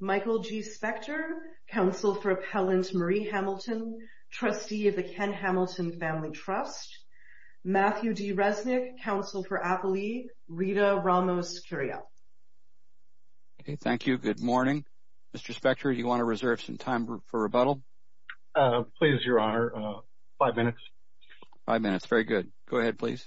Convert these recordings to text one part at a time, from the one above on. Michael G. Spector, Counsel for Appellant Marie Hamilton, Trustee of the Ken Hamilton Family Trust. Matthew D. Resnick, Counsel for Appellee Rita Ramos-Curiel. Thank you. Good morning. Mr. Spector, do you want to reserve some time for rebuttal? Please, Your Honor. Five minutes. Five minutes. Very good. Go ahead, please.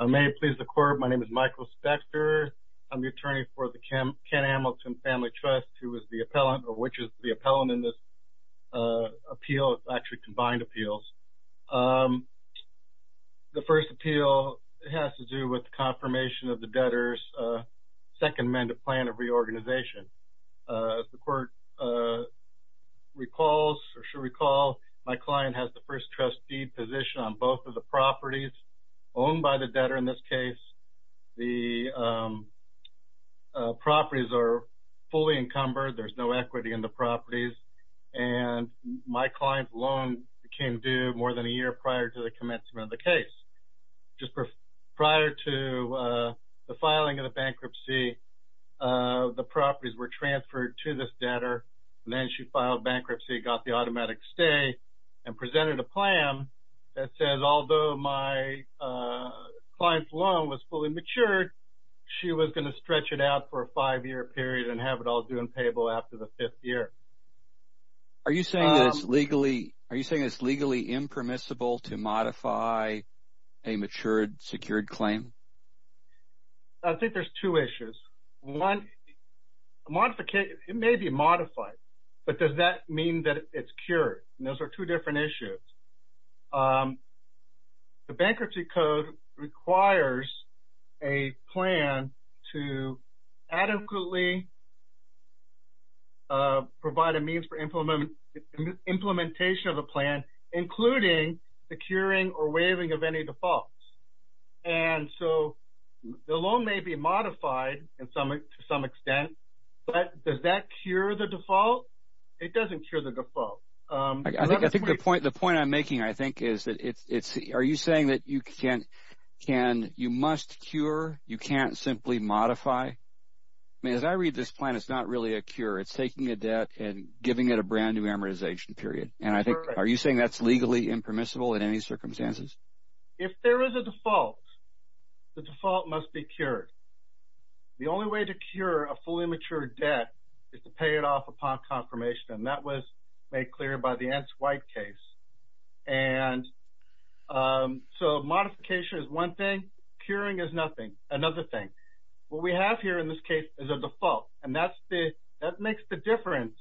May it please the Court, my name is Michael Spector. I'm the attorney for the Ken Hamilton Family Trust, who is the appellant, or which is the appellant in this appeal. It's actually combined appeals. The first appeal has to do with the confirmation of the debtor's Second Amendment plan of reorganization. As the Court recalls, my client has the first trustee position on both of the properties owned by the debtor in this case. The properties are fully encumbered. There's no equity in the properties. My client's loan became due more than a year prior to the commencement of the case. Just prior to the filing of the bankruptcy, the properties were transferred to this debtor, then she filed bankruptcy, got the automatic stay, and presented a plan that says, although my client's loan was fully matured, she was going to stretch it out for a five-year period and have it all due and payable after the fifth year. Are you saying that it's legally impermissible to modify a matured, secured claim? I think there's two issues. One, modification, it may be modified, but does that mean that it's cured? Those are two different issues. The Bankruptcy Code requires a plan to adequately provide a means for implementation of a plan, including the curing or waiving of any defaults. And so, the loan may be modified to some extent, but does that cure the default? It doesn't cure the default. The point I'm making, I think, is that are you saying that you must cure, you can't simply modify? As I read this plan, it's not really a cure. It's taking a debt and giving it a brand new amortization period. Are you saying that's legally impermissible in any circumstances? If there is a default, the default must be cured. The only way to cure a fully matured debt is to pay it off upon confirmation, and that was made clear by the Ence White case. And so, modification is one thing, curing is nothing, another thing. What we have here in this case is a default, and that makes the difference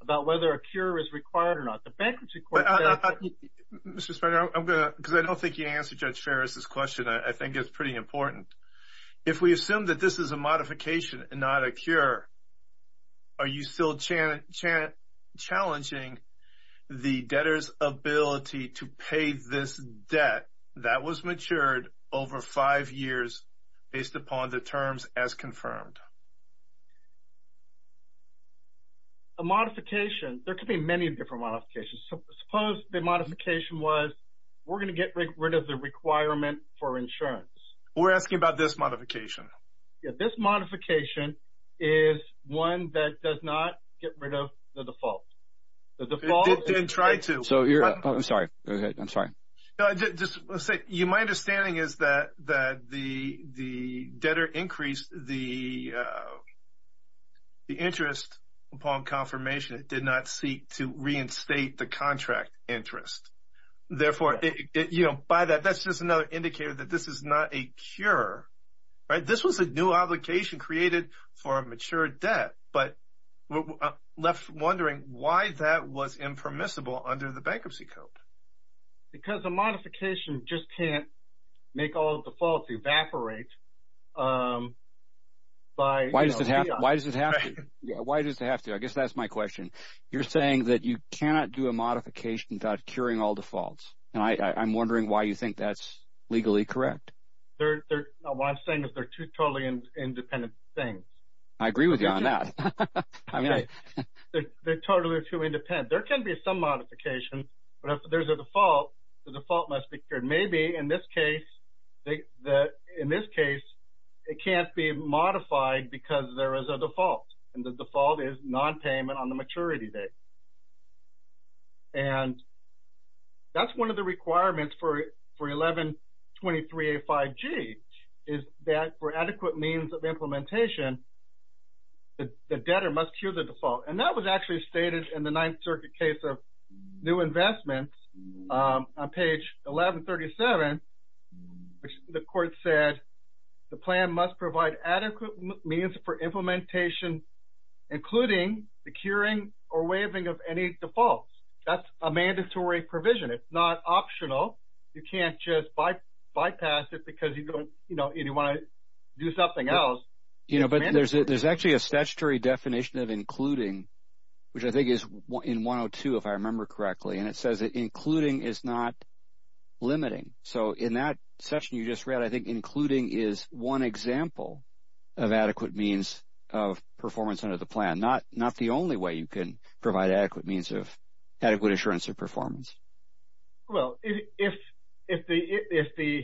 about whether a cure is required or not. The Bankruptcy Code... Mr. Spencer, I'm going to, because I don't think you answered Judge Ferris' question. I think it's pretty important. If we assume that this is a modification and not a cure, are you still challenging the debtor's ability to pay this debt that was matured over five years based upon the terms as confirmed? A modification, there could be many different modifications. Suppose the modification was, we're going to get rid of the requirement for insurance. We're asking about this modification. Yeah, this modification is one that does not get rid of the default. The default... It did try to. So, you're... I'm sorry. Go ahead. I'm sorry. No, just, let's say, my understanding is that the debtor increased the amount of debt by the interest upon confirmation. It did not seek to reinstate the contract interest. Therefore, by that, that's just another indicator that this is not a cure, right? This was a new obligation created for a mature debt, but I'm left wondering why that was impermissible under the Bankruptcy Code. Because a modification just can't make all defaults evaporate by... Why does it have to? Why does it have to? I guess that's my question. You're saying that you cannot do a modification without curing all defaults, and I'm wondering why you think that's legally correct. What I'm saying is they're two totally independent things. I agree with you on that. I mean, they're totally two independent. There can be some modification, but if there's a default, the default must be cured. Maybe, in this case, it can't be modified because there is a default, and the default is non-payment on the maturity date. And that's one of the requirements for 1123A5G, is that for adequate means of implementation, the debtor must cure the default. And that was actually stated in the Ninth Circuit case of New Investments on page 1137, which the court said the plan must provide adequate means for implementation, including the curing or waiving of any defaults. That's a mandatory provision. It's not optional. You can't just bypass it because you don't, you know, you want to do something else. You know, but there's actually a statutory definition of including, which I think is in 102, if I remember correctly. And it says that including is not limiting. So, in that section you just read, I think including is one example of adequate means of performance under the plan. Not the only way you can provide adequate means of adequate assurance of performance. Well, if the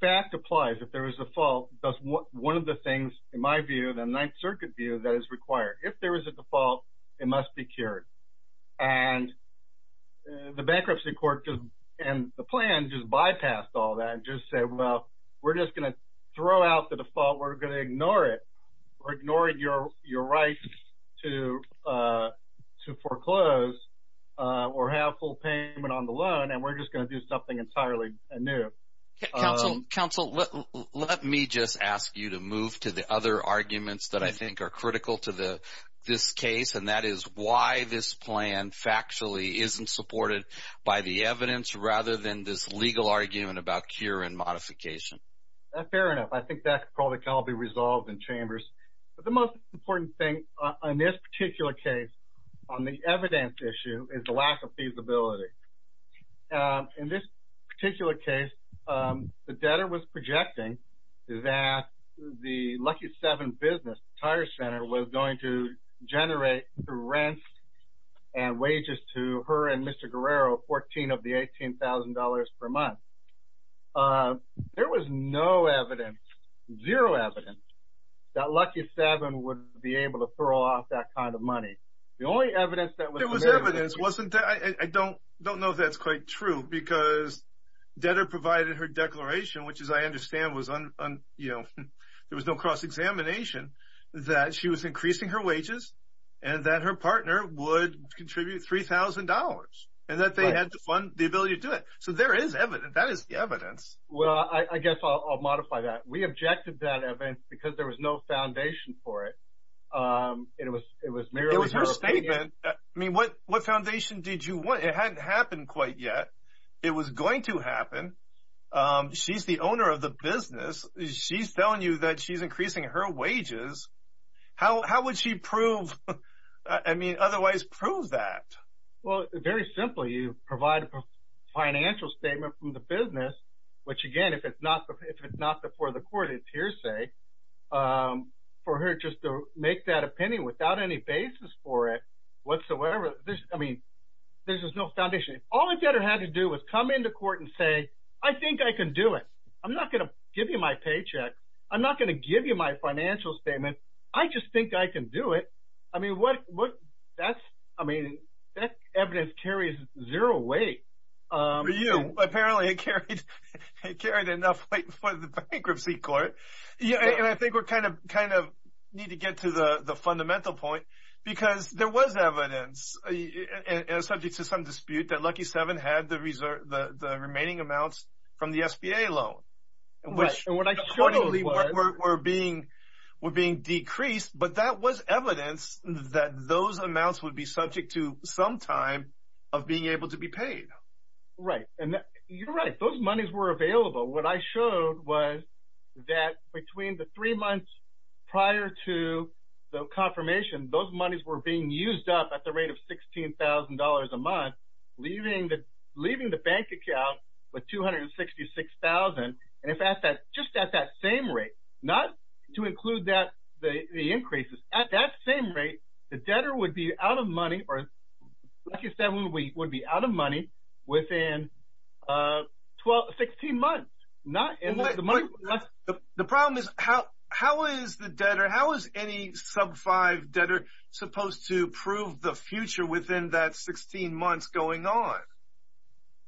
fact applies, if there is a fault, that's one of the things in my view, the Ninth Circuit view that is required. If there is a default, it must be cured. And the bankruptcy court and the plan just bypassed all that and just said, well, we're just going to throw out the default. We're going to ignore it. We're ignoring your right to foreclose or have full payment on the loan. And we're just going to do something entirely new. Counsel, let me just ask you to move to the other arguments that I think are critical to this case. And that is why this plan factually isn't supported by the evidence rather than this legal argument about cure and modification. Fair enough. I think that probably can all be resolved in chambers. But the most important thing on this particular case on the evidence issue is the lack of feasibility. In this particular case, the debtor was projecting that the Lucky 7 business tire center was going to generate rents and wages to her and Mr. Guerrero, 14 of the $18,000 per month. But there was no evidence, zero evidence, that Lucky 7 would be able to throw off that kind of money. The only evidence that was there was evidence wasn't that. I don't know if that's quite true because debtor provided her declaration, which, as I understand, was on, you know, there was no cross-examination that she was increasing her wages and that her partner would contribute $3,000 and that they had to fund the ability to do it. So there is evidence. That is the evidence. Well, I guess I'll modify that. We objected to that evidence because there was no foundation for it. It was merely her statement. I mean, what foundation did you want? It hadn't happened quite yet. It was going to happen. She's the owner of the business. She's telling you that she's increasing her wages. How would she prove, I mean, otherwise prove that? Well, very simply, you provide a financial statement from the business, which, again, if it's not before the court, it's hearsay, for her just to make that opinion without any basis for it whatsoever. I mean, there's just no foundation. All the debtor had to do was come into court and say, I think I can do it. I'm not going to give you my paycheck. I'm not going to give you my financial statement. I just think I can do it. I mean, that evidence carries zero weight. Apparently, it carried enough weight for the bankruptcy court. Yeah, and I think we kind of need to get to the fundamental point because there was evidence, subject to some dispute, that Lucky Seven had the remaining amounts from the SBA loan, which, accordingly, were being decreased. But that was evidence that those amounts would be subject to some time of being able to be paid. Right, and you're right. Those monies were available. What I showed was that between the three months prior to the confirmation, those monies were being used up at the rate of $16,000 a month, leaving the bank account with $266,000. And just at that same rate, not to include the increases, at that same rate, the debtor would be out of money, or Lucky Seven would be out of money within 16 months. The problem is, how is the debtor, how is any Sub-5 debtor supposed to prove the future within that 16 months going on?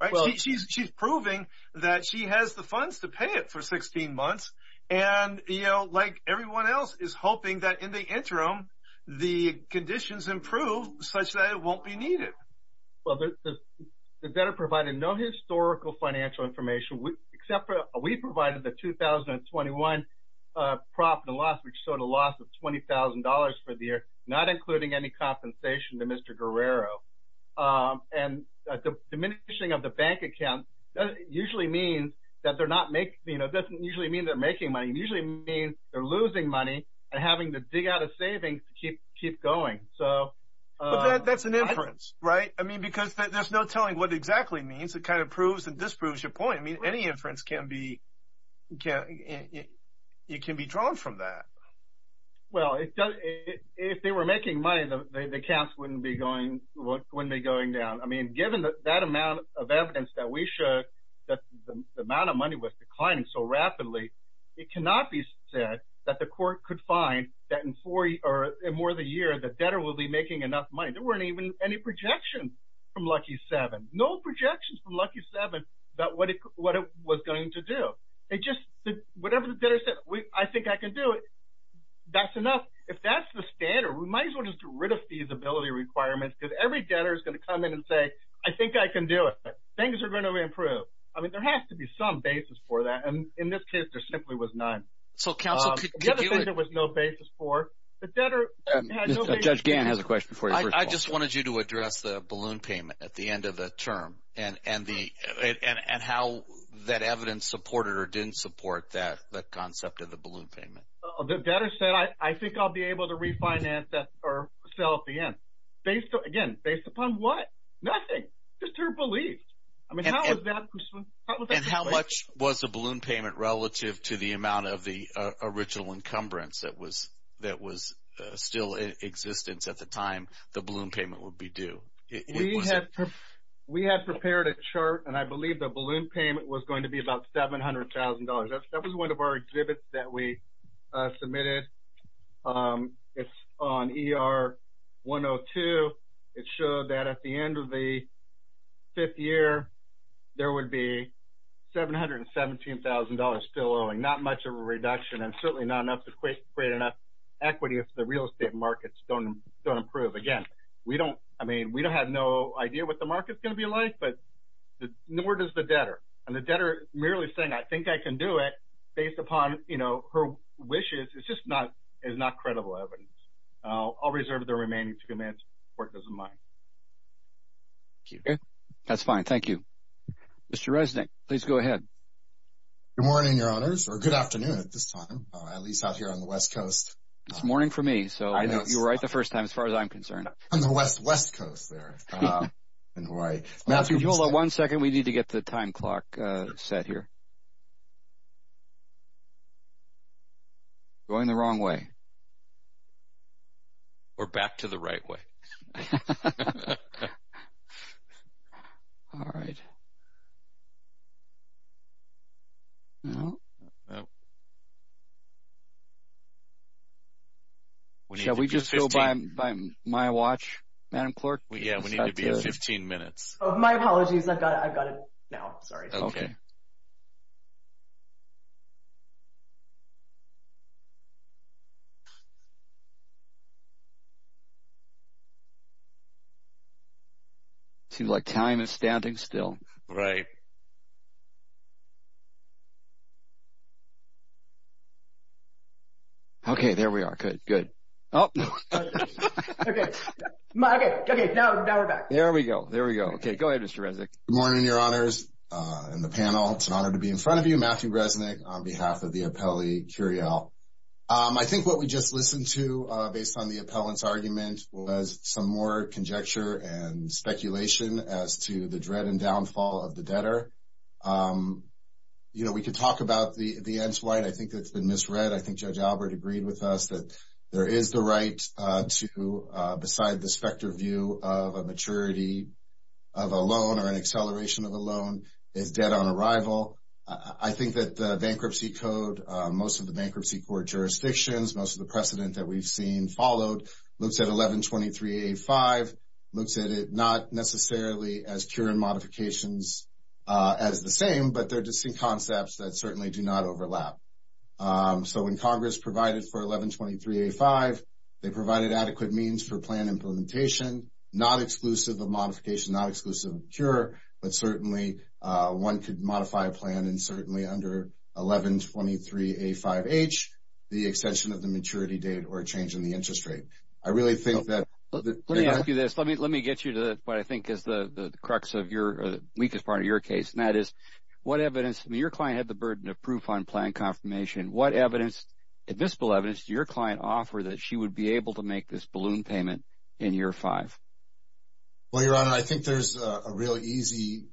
Right, she's proving that she has the funds to pay it for 16 months, and, you know, like everyone else, is hoping that in the interim, the conditions improve such that it won't be needed. Well, the debtor provided no historical financial information, except for we provided the 2021 profit and loss, which showed a loss of $20,000 for the year, not including any compensation to Mr. Guerrero. And the diminishing of the bank account usually means that they're not making, you know, it doesn't usually mean they're making money, it usually means they're losing money and having to dig out a savings to keep going, so... But that's an inference, right? I mean, because there's no telling what exactly it means, it kind of proves and disproves your point. I mean, any inference can be drawn from that. Well, if they were making money, the accounts wouldn't be going down. I mean, given that amount of evidence that we showed that the amount of money was declining so rapidly, it cannot be said that the court could find that in more than a year, the debtor will be making enough money. There weren't even any projections from Lucky 7. No projections from Lucky 7 about what it was going to do. It just, whatever the debtor said, I think I can do it. That's enough. If that's the standard, we might as well just get rid of feasibility requirements because every debtor is going to come in and say, I think I can do it. Things are going to improve. I mean, there has to be some basis for that. And in this case, there simply was none. So counsel could do it... The other thing there was no basis for, the debtor... Judge Gann has a question for you. I just wanted you to address the balloon payment at the end of the term and how that evidence supported or didn't support that concept of the balloon payment. The debtor said, I think I'll be able to refinance that or sell at the end. Based on, again, based upon what? Nothing. Just her beliefs. I mean, how is that... And how much was the balloon payment relative to the amount of the original encumbrance that was still in existence at the time the balloon payment would be due? We had prepared a chart and I believe the balloon payment was going to be about $700,000. That was one of our exhibits that we submitted. It's on ER 102. It showed that at the end of the fifth year, there would be $717,000 still owing. Not much of a reduction and certainly not enough to create enough equity if the real estate markets don't improve. Again, we don't, I mean, we don't have no idea what the market's going to be like, but nor does the debtor. And the debtor merely saying, I think I can do it based upon, you know, her wishes. It's just not, it's not credible evidence. I'll reserve the remaining two minutes if the court doesn't mind. Thank you. That's fine. Thank you. Mr. Resnick, please go ahead. Good morning, your honors, or good afternoon at this time, at least out here on the West Coast. It's morning for me. You were right the first time as far as I'm concerned. On the West Coast there in Hawaii. Matthew, hold on one second. We need to get the time clock set here. Going the wrong way. Or back to the right way. All right. Shall we just go by my watch, Madam Clerk? Yeah, we need to be at 15 minutes. Oh, my apologies. I've got it, I've got it now. Sorry. Okay. Seems like time is standing still. Right. Okay, there we are. Good, good. There we go, there we go. Okay, go ahead, Mr. Resnick. Good morning, your honors and the panel. It's an honor to be in front of you, Matthew Resnick, on behalf of the appellee, Curiel. I think what we just listened to based on the appellant's argument was some more conjecture and speculation as to the dread and downfall of the debtor. You know, we could talk about the ends white. I think that's been misread. I think Judge Albert agreed with us that there is the right to, beside the specter view of a maturity of a loan or an acceleration of a loan, is debt on arrival. I think that the bankruptcy code, most of the bankruptcy court jurisdictions, most of the precedent that we've seen followed, looks at 1123A5, looks at it not necessarily as cure and modifications as the same, but they're distinct concepts that certainly do not overlap. So when Congress provided for 1123A5, they provided adequate means for plan implementation, not exclusive of modification, not exclusive of cure, but certainly one could modify a plan and certainly under 1123A5H, the extension of the maturity date or change in the interest rate. Let me ask you this. Let me get you to what I think is the crux of your, weakest part of your case, and that is what evidence, your client had the burden of proof on plan confirmation. What evidence, admissible evidence, did your client offer that she would be able to make this balloon payment in year five? Well, Your Honor, I think there's a real easy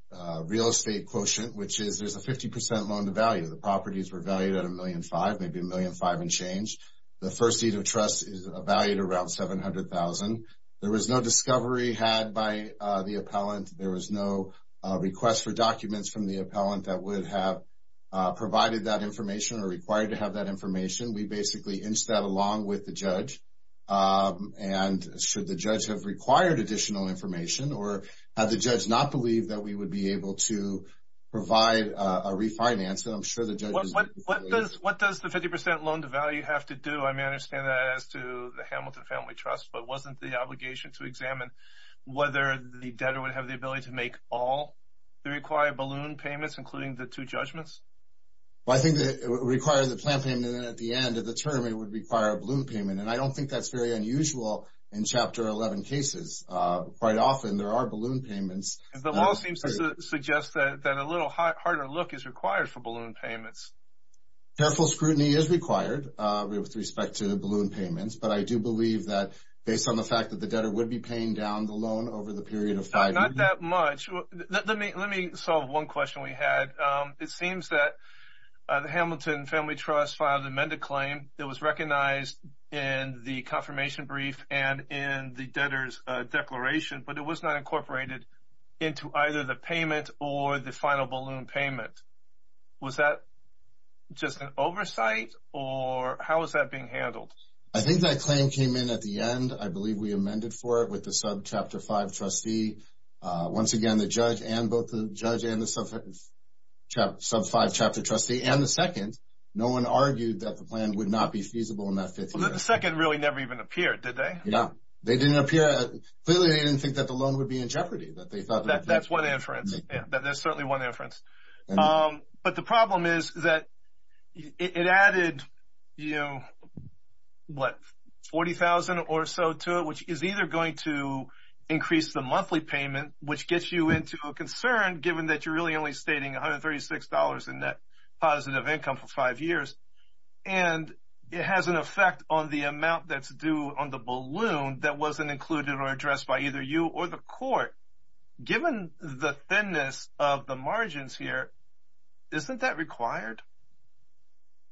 real estate quotient, which is there's a 50% loan to value. The properties were valued at a million five, maybe a million five and change. The first deed of trust is a valued around 700,000. There was no discovery had by the appellant. There was no request for documents from the appellant that would have provided that information or required to have that information. We basically inched that along with the judge and should the judge have required additional information or have the judge not believed that we would be able to provide a refinance. And I'm sure the judge- What does the 50% loan to value have to do? I mean, I understand that as to the Hamilton Family Trust, but wasn't the obligation to examine whether the debtor would have the ability to make all the required balloon payments, including the two judgments? Well, I think that it requires a plan payment, and then at the end of the term, it would require a balloon payment. And I don't think that's very unusual in Chapter 11 cases. Quite often, there are balloon payments. The law seems to suggest that a little harder look is required for balloon payments. Careful scrutiny is required with respect to balloon payments, but I do believe that based on the fact that the debtor would be paying down the loan over the period of five- Not that much. Let me solve one question we had. It seems that the Hamilton Family Trust filed an amended claim that was recognized in the confirmation brief and in the debtor's declaration, but it was not incorporated into either the payment or the final balloon payment. Was that just an oversight, or how is that being handled? I think that claim came in at the end. I believe we amended for it with the Subchapter 5 trustee. Once again, the judge and both the judge and the Subchapter 5 trustee and the second, no one argued that the plan would not be feasible in that fifth year. The second really never even appeared, did they? No, they didn't appear. Clearly, they didn't think that the loan would be in jeopardy, that they thought- That's one inference. There's certainly one inference. But the problem is that it added 40,000 or so to it, which is either going to increase the monthly payment, which gets you into a concern given that you're really only stating $136 in net positive income for five years, and it has an effect on the amount that's due on the balloon that wasn't included or addressed by either you or the court. Given the thinness of the margins here, isn't that required?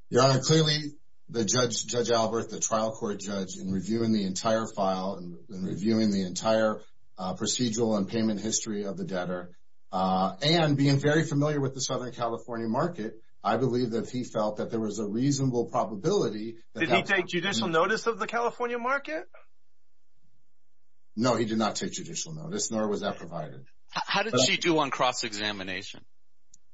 Your Honor, clearly, the judge, Judge Albert, the trial court judge, in reviewing the entire file and reviewing the entire procedural and payment history of the debtor and being very familiar with the Southern California market, I believe that he felt that there was a reasonable probability- Did he take judicial notice of the California market? No, he did not take judicial notice, nor was that provided. How did she do on cross-examination?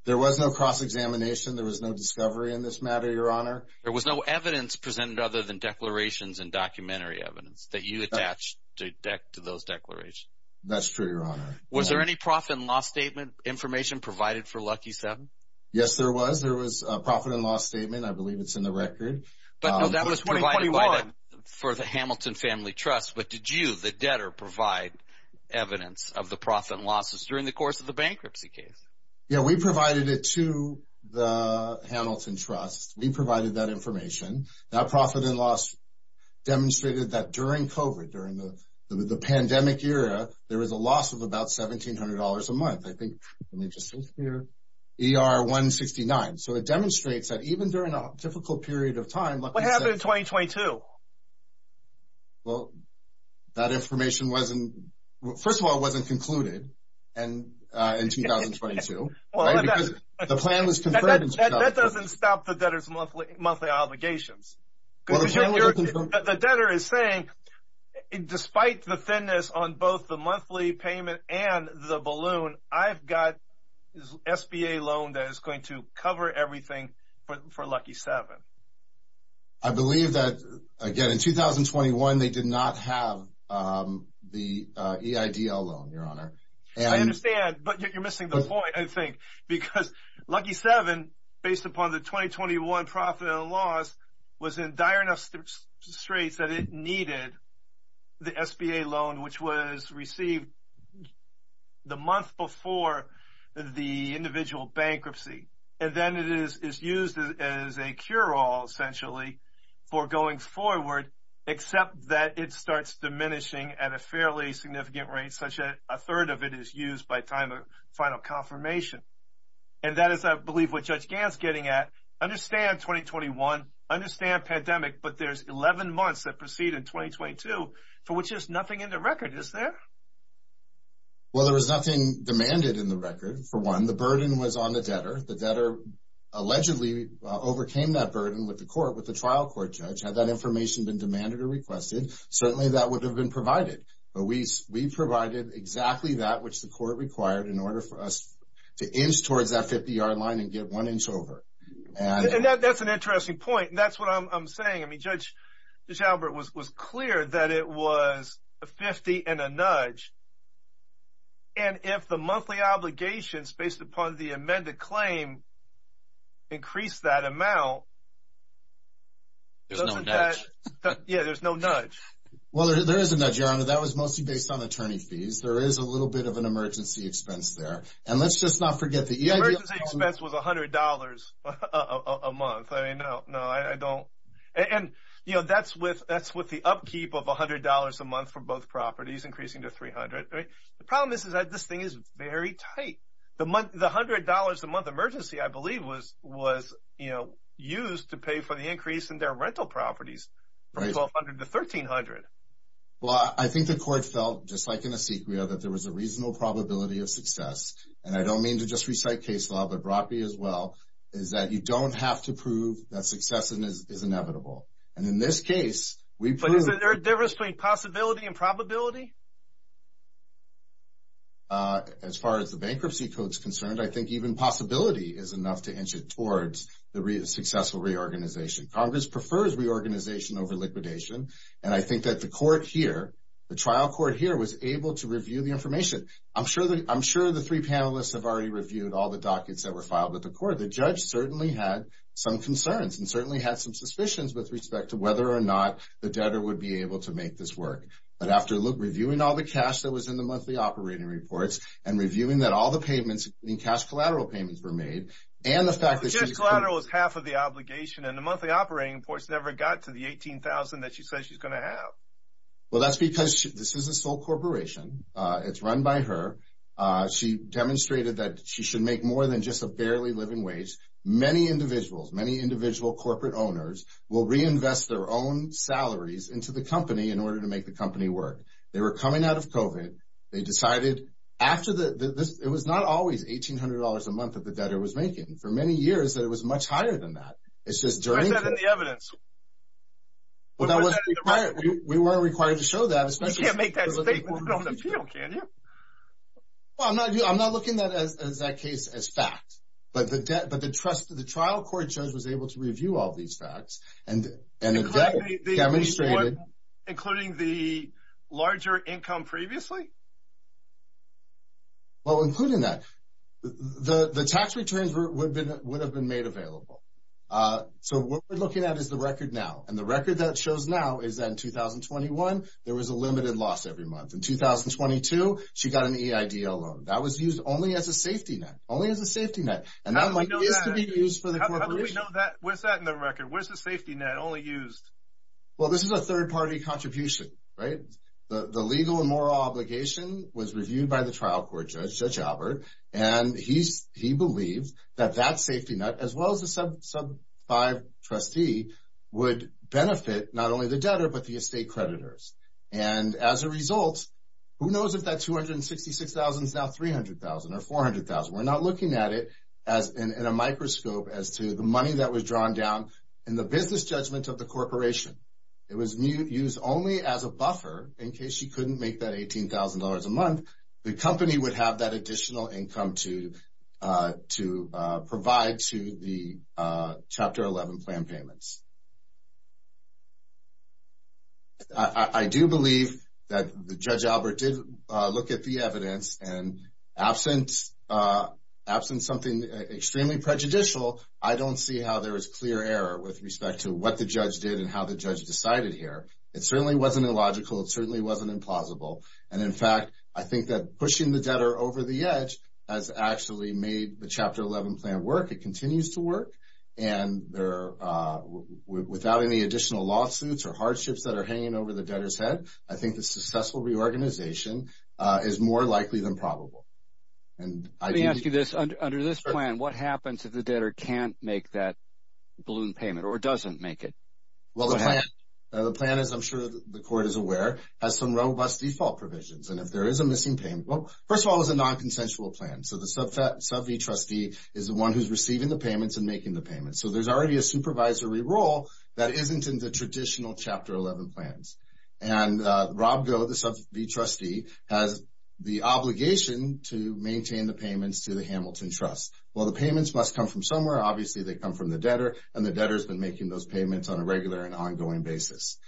There was no cross-examination. There was no discovery in this matter, Your Honor. There was no evidence presented other than declarations and documentary evidence that you attached to those declarations. That's true, Your Honor. Was there any profit and loss statement information provided for Lucky Seven? Yes, there was. There was a profit and loss statement. I believe it's in the record. But no, that was provided for the Hamilton Family Trust. But did you, the debtor, provide evidence of the profit and losses during the course of the bankruptcy case? Yeah, we provided it to the Hamilton Trust. We provided that information. That profit and loss demonstrated that during COVID, during the pandemic era, there was a loss of about $1,700 a month. I think, let me just look here, ER-169. So it demonstrates that even during a difficult period of time- What happened in 2022? Well, that information wasn't, first of all, it wasn't concluded in 2022, right? Because the plan was confirmed- That doesn't stop the debtor's monthly obligations. The debtor is saying, despite the thinness on both the monthly payment and the balloon, I've got this SBA loan that is going to cover everything for Lucky Seven. I believe that, again, in 2021, they did not have the EIDL loan, Your Honor. I understand, but you're missing the point, I think, because Lucky Seven, based upon the 2021 profit and loss, was in dire enough straits that it needed the SBA loan, which was received the month before the individual bankruptcy. And then it is used as a cure-all, essentially, for going forward, except that it starts diminishing at a fairly significant rate, a third of it is used by time of final confirmation. And that is, I believe, what Judge Gant's getting at. Understand 2021, understand pandemic, but there's 11 months that proceed in 2022, for which there's nothing in the record, is there? Well, there was nothing demanded in the record, for one. The burden was on the debtor. The debtor allegedly overcame that burden with the trial court, Judge. Had that information been demanded or requested, certainly that would have been provided. But we provided exactly that, which the court required, in order for us to inch towards that 50-yard line and get one inch over. And that's an interesting point. And that's what I'm saying. I mean, Judge Albert was clear that it was a 50 and a nudge. And if the monthly obligations, based upon the amended claim, increased that amount. Yeah, there's no nudge. Well, there is a nudge, Your Honor. That was mostly based on attorney fees. There is a little bit of an emergency expense there. And let's just not forget the EID- Emergency expense was $100 a month. I mean, no, no, I don't. And that's with the upkeep of $100 a month for both properties, increasing to 300, right? The problem is that this thing is very tight. The $100 a month emergency, I believe, was used to pay for the increase in their rental properties from 1200 to 1300. Well, I think the court felt, just like in Esequia, that there was a reasonable probability of success. And I don't mean to just recite case law, but brought me as well, is that you don't have to prove that success is inevitable. And in this case, we proved- But is there a difference between possibility and probability? As far as the bankruptcy code's concerned, I think even possibility is enough to inch it towards the successful reorganization. Congress prefers reorganization over liquidation. And I think that the court here, the trial court here, was able to review the information. I'm sure the three panelists have already reviewed all the dockets that were filed at the court. The judge certainly had some concerns and certainly had some suspicions with respect to whether or not the debtor would be able to make this work. But after reviewing all the cash that was in the monthly operating reports and reviewing that all the payments, in cash collateral payments, were made, and the fact that she- Cash collateral is half of the obligation. And the monthly operating reports never got to the $18,000 that she says she's going to have. Well, that's because this is a sole corporation. It's run by her. She demonstrated that she should make more than just a barely living wage. Many individuals, many individual corporate owners will reinvest their own salaries into the company in order to make the company work. They were coming out of COVID. They decided after the- It was not always $1,800 a month that the debtor was making. For many years, it was much higher than that. It's just during- Well, that wasn't required. We weren't required to show that, especially- You can't make that statement on the field, can you? Well, I'm not looking at that case as fact. But the trial court judge was able to review all these facts and the debtor demonstrated- Including the larger income previously? Well, including that. The tax returns would have been made available. So what we're looking at is the record now. And the record that shows now is that in 2021, there was a limited loss every month. In 2022, she got an EIDL loan. That was used only as a safety net. Only as a safety net. And that might be used for the corporation. What's that in the record? Where's the safety net only used? Well, this is a third-party contribution, right? The legal and moral obligation was reviewed by the trial court judge, Judge Albert. And he believes that that safety net, as well as the sub-five trustee, would benefit not only the debtor, but the estate creditors. And as a result, who knows if that $266,000 is now $300,000 or $400,000. We're not looking at it in a microscope as to the money that was drawn down in the business judgment of the corporation. It was used only as a buffer in case she couldn't make that $18,000 a month. The company would have that additional income to provide to the Chapter 11 plan payments. I do believe that Judge Albert did look at the evidence. And absent something extremely prejudicial, I don't see how there is clear error with respect to what the judge did and how the judge decided here. It certainly wasn't illogical. It certainly wasn't implausible. And in fact, I think that pushing the debtor over the edge has actually made the Chapter 11 plan work. It continues to work. And without any additional lawsuits or hardships that are hanging over the debtor's head, I think the successful reorganization is more likely than probable. And I do... Let me ask you this. Under this plan, what happens if the debtor can't make that balloon payment or doesn't make it? Well, the plan, as I'm sure the court is aware, has some robust default provisions. And if there is a missing payment, first of all, it's a non-consensual plan. So the Sub-V Trustee is the one who's receiving the payments and making the payments. So there's already a supervisory role that isn't in the traditional Chapter 11 plans. And Rob Go, the Sub-V Trustee, has the obligation to maintain the payments to the Hamilton Trust. Well, the payments must come from somewhere. Obviously, they come from the debtor and the debtor's been making those payments on a regular and ongoing basis.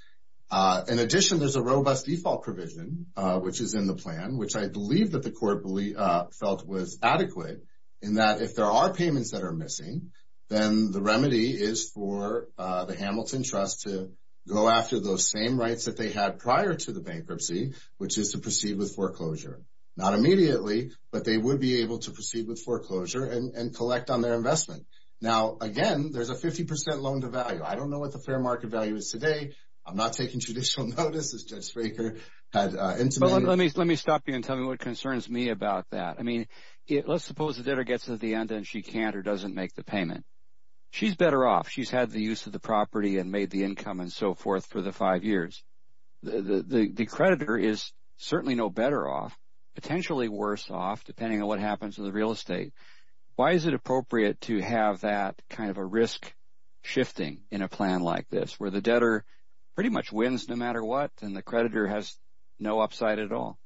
In addition, there's a robust default provision, which is in the plan, which I believe that the court felt was adequate, in that if there are payments that are missing, then the remedy is for the Hamilton Trust to go after those same rights that they had prior to the bankruptcy, which is to proceed with foreclosure. Not immediately, but they would be able to proceed with foreclosure and collect on their investment. Now, again, there's a 50% loan to value. I don't know what the fair market value is today. I'm not taking traditional notice, as Judge Spraker had intimated. Let me stop you and tell me what concerns me about that. Let's suppose the debtor gets to the end and she can't or doesn't make the payment. She's better off. She's had the use of the property and made the income and so forth for the five years. The creditor is certainly no better off, potentially worse off, depending on what happens to the real estate. Why is it appropriate to have that kind of a risk shifting in a plan like this, where the debtor pretty much wins no matter what and the creditor has no upside at all?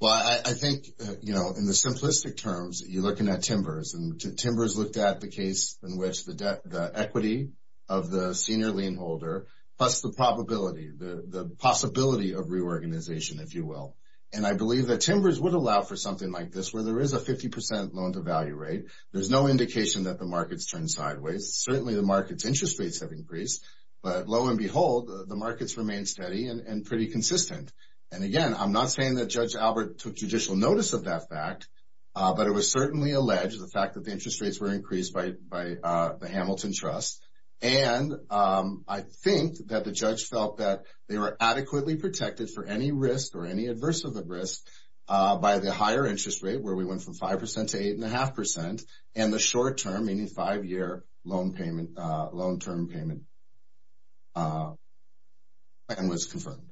Well, I think in the simplistic terms, you're looking at timbers, and timbers looked at the case in which the equity of the senior lien holder, plus the probability, the possibility of reorganization, if you will. And I believe that timbers would allow for something like this, where there is a 50% loan to value rate. There's no indication that the market's turned sideways. Certainly the market's interest rates have increased, but lo and behold, the markets remain steady and pretty consistent. And again, I'm not saying that Judge Albert took judicial notice of that fact, but it was certainly alleged, the fact that the interest rates were increased by the Hamilton Trust. And I think that the judge felt that they were adequately protected for any risk or any adverse of the risk by the higher interest rate, where we went from 5% to 8.5%, and the short term, meaning five-year loan term payment and was confirmed.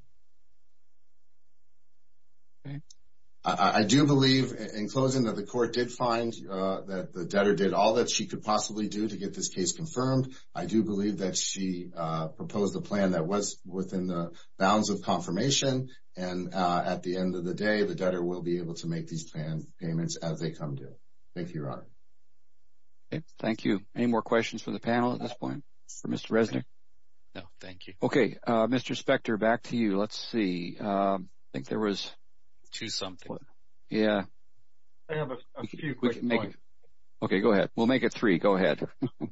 I do believe in closing that the court did find that the debtor did all that she could possibly do to get this case confirmed. I do believe that she proposed a plan that was within the bounds of confirmation. And at the end of the day, the debtor will be able to make these payments as they come due. Thank you, Your Honor. Okay, thank you. Any more questions for the panel at this point? For Mr. Resnick? No, thank you. Okay, Mr. Spector, back to you. Let's see, I think there was... Two something. Yeah. I have a few quick points. Okay, go ahead. We'll make it three, go ahead.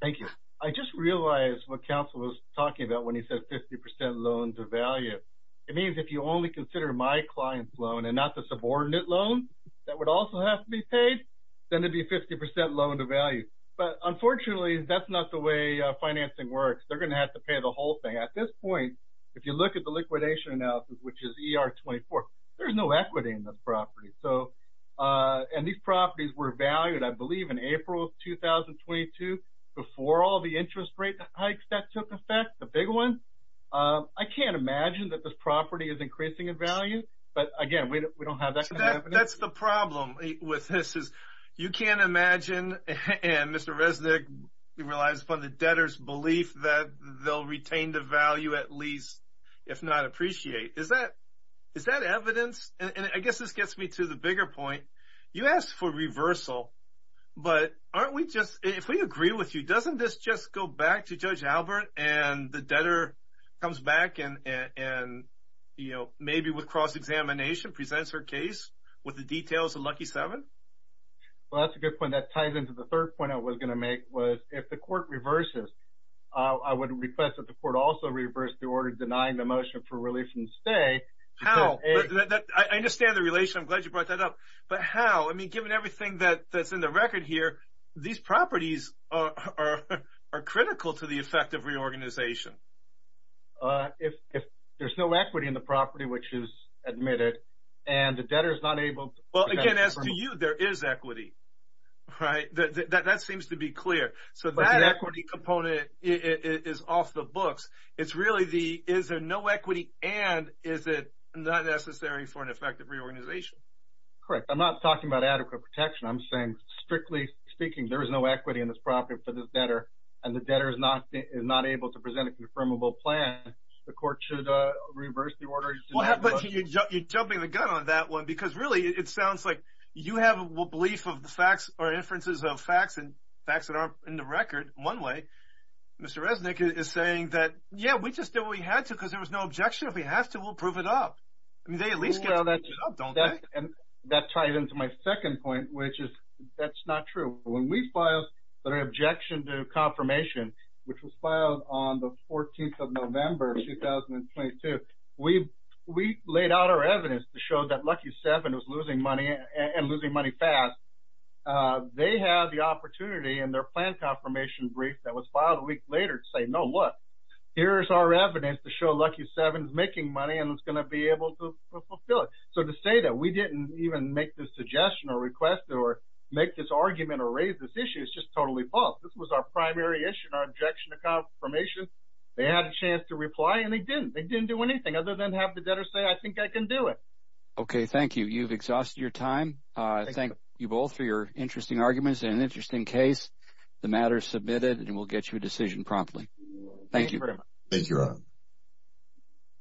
Thank you. I just realized what counsel was talking about when he said 50% loan to value. It means if you only consider my client's loan and not the subordinate loan that would also have to be paid, then it'd be 50% loan to value. But unfortunately, that's not the way financing works. They're gonna have to pay the whole thing. At this point, if you look at the liquidation analysis, which is ER 24, there's no equity in those properties. And these properties were valued, I believe in April of 2022 before all the interest rate hikes that took effect, the big one. I can't imagine that this property is increasing in value. But again, we don't have that kind of evidence. That's the problem with this is you can't imagine, and Mr. Resnick relies upon the debtor's belief that they'll retain the value at least, if not appreciate. Is that evidence? And I guess this gets me to the bigger point. You asked for reversal, but aren't we just, if we agree with you, doesn't this just go back to Judge Albert and the debtor comes back and maybe with cross-examination presents her case with the details of Lucky 7? Well, that's a good point. That ties into the third point I was going to make was if the court reverses, I would request that the court also reverse the order denying the motion for release and stay. How? I understand the relation. I'm glad you brought that up. But how? I mean, given everything that's in the record here, these properties are critical to the effect of reorganization. If there's no equity in the property, which is admitted, and the debtor is not able to- Well, again, as to you, there is equity, right? That seems to be clear. So that equity component is off the books. It's really the, is there no equity and is it not necessary for an effective reorganization? Correct. I'm not talking about adequate protection. I'm saying, strictly speaking, there is no equity in this property for this debtor and the debtor is not able to present a confirmable plan. The court should reverse the order. You're jumping the gun on that one because really it sounds like you have a belief of the facts or inferences of facts and facts that aren't in the record. One way, Mr. Resnick is saying that, yeah, we just did what we had to because there was no objection. If we have to, we'll prove it up. I mean, they at least get to prove it up, don't they? And that tied into my second point, which is that's not true. When we filed the objection to confirmation, which was filed on the 14th of November, 2022, we laid out our evidence to show that Lucky 7 was losing money and losing money fast. They have the opportunity in their plan confirmation brief that was filed a week later to say, no, look, here's our evidence to show Lucky 7 is making money and it's going to be able to fulfill it. So to say that we didn't even make this suggestion or request it or make this argument or raise this issue is just totally false. This was our primary issue and our objection to confirmation. They had a chance to reply and they didn't. They didn't do anything other than have the debtor say, I think I can do it. Okay, thank you. You've exhausted your time. I thank you both for your interesting arguments and an interesting case. The matter is submitted and we'll get you a decision promptly. Thank you very much. Thank you, Ron.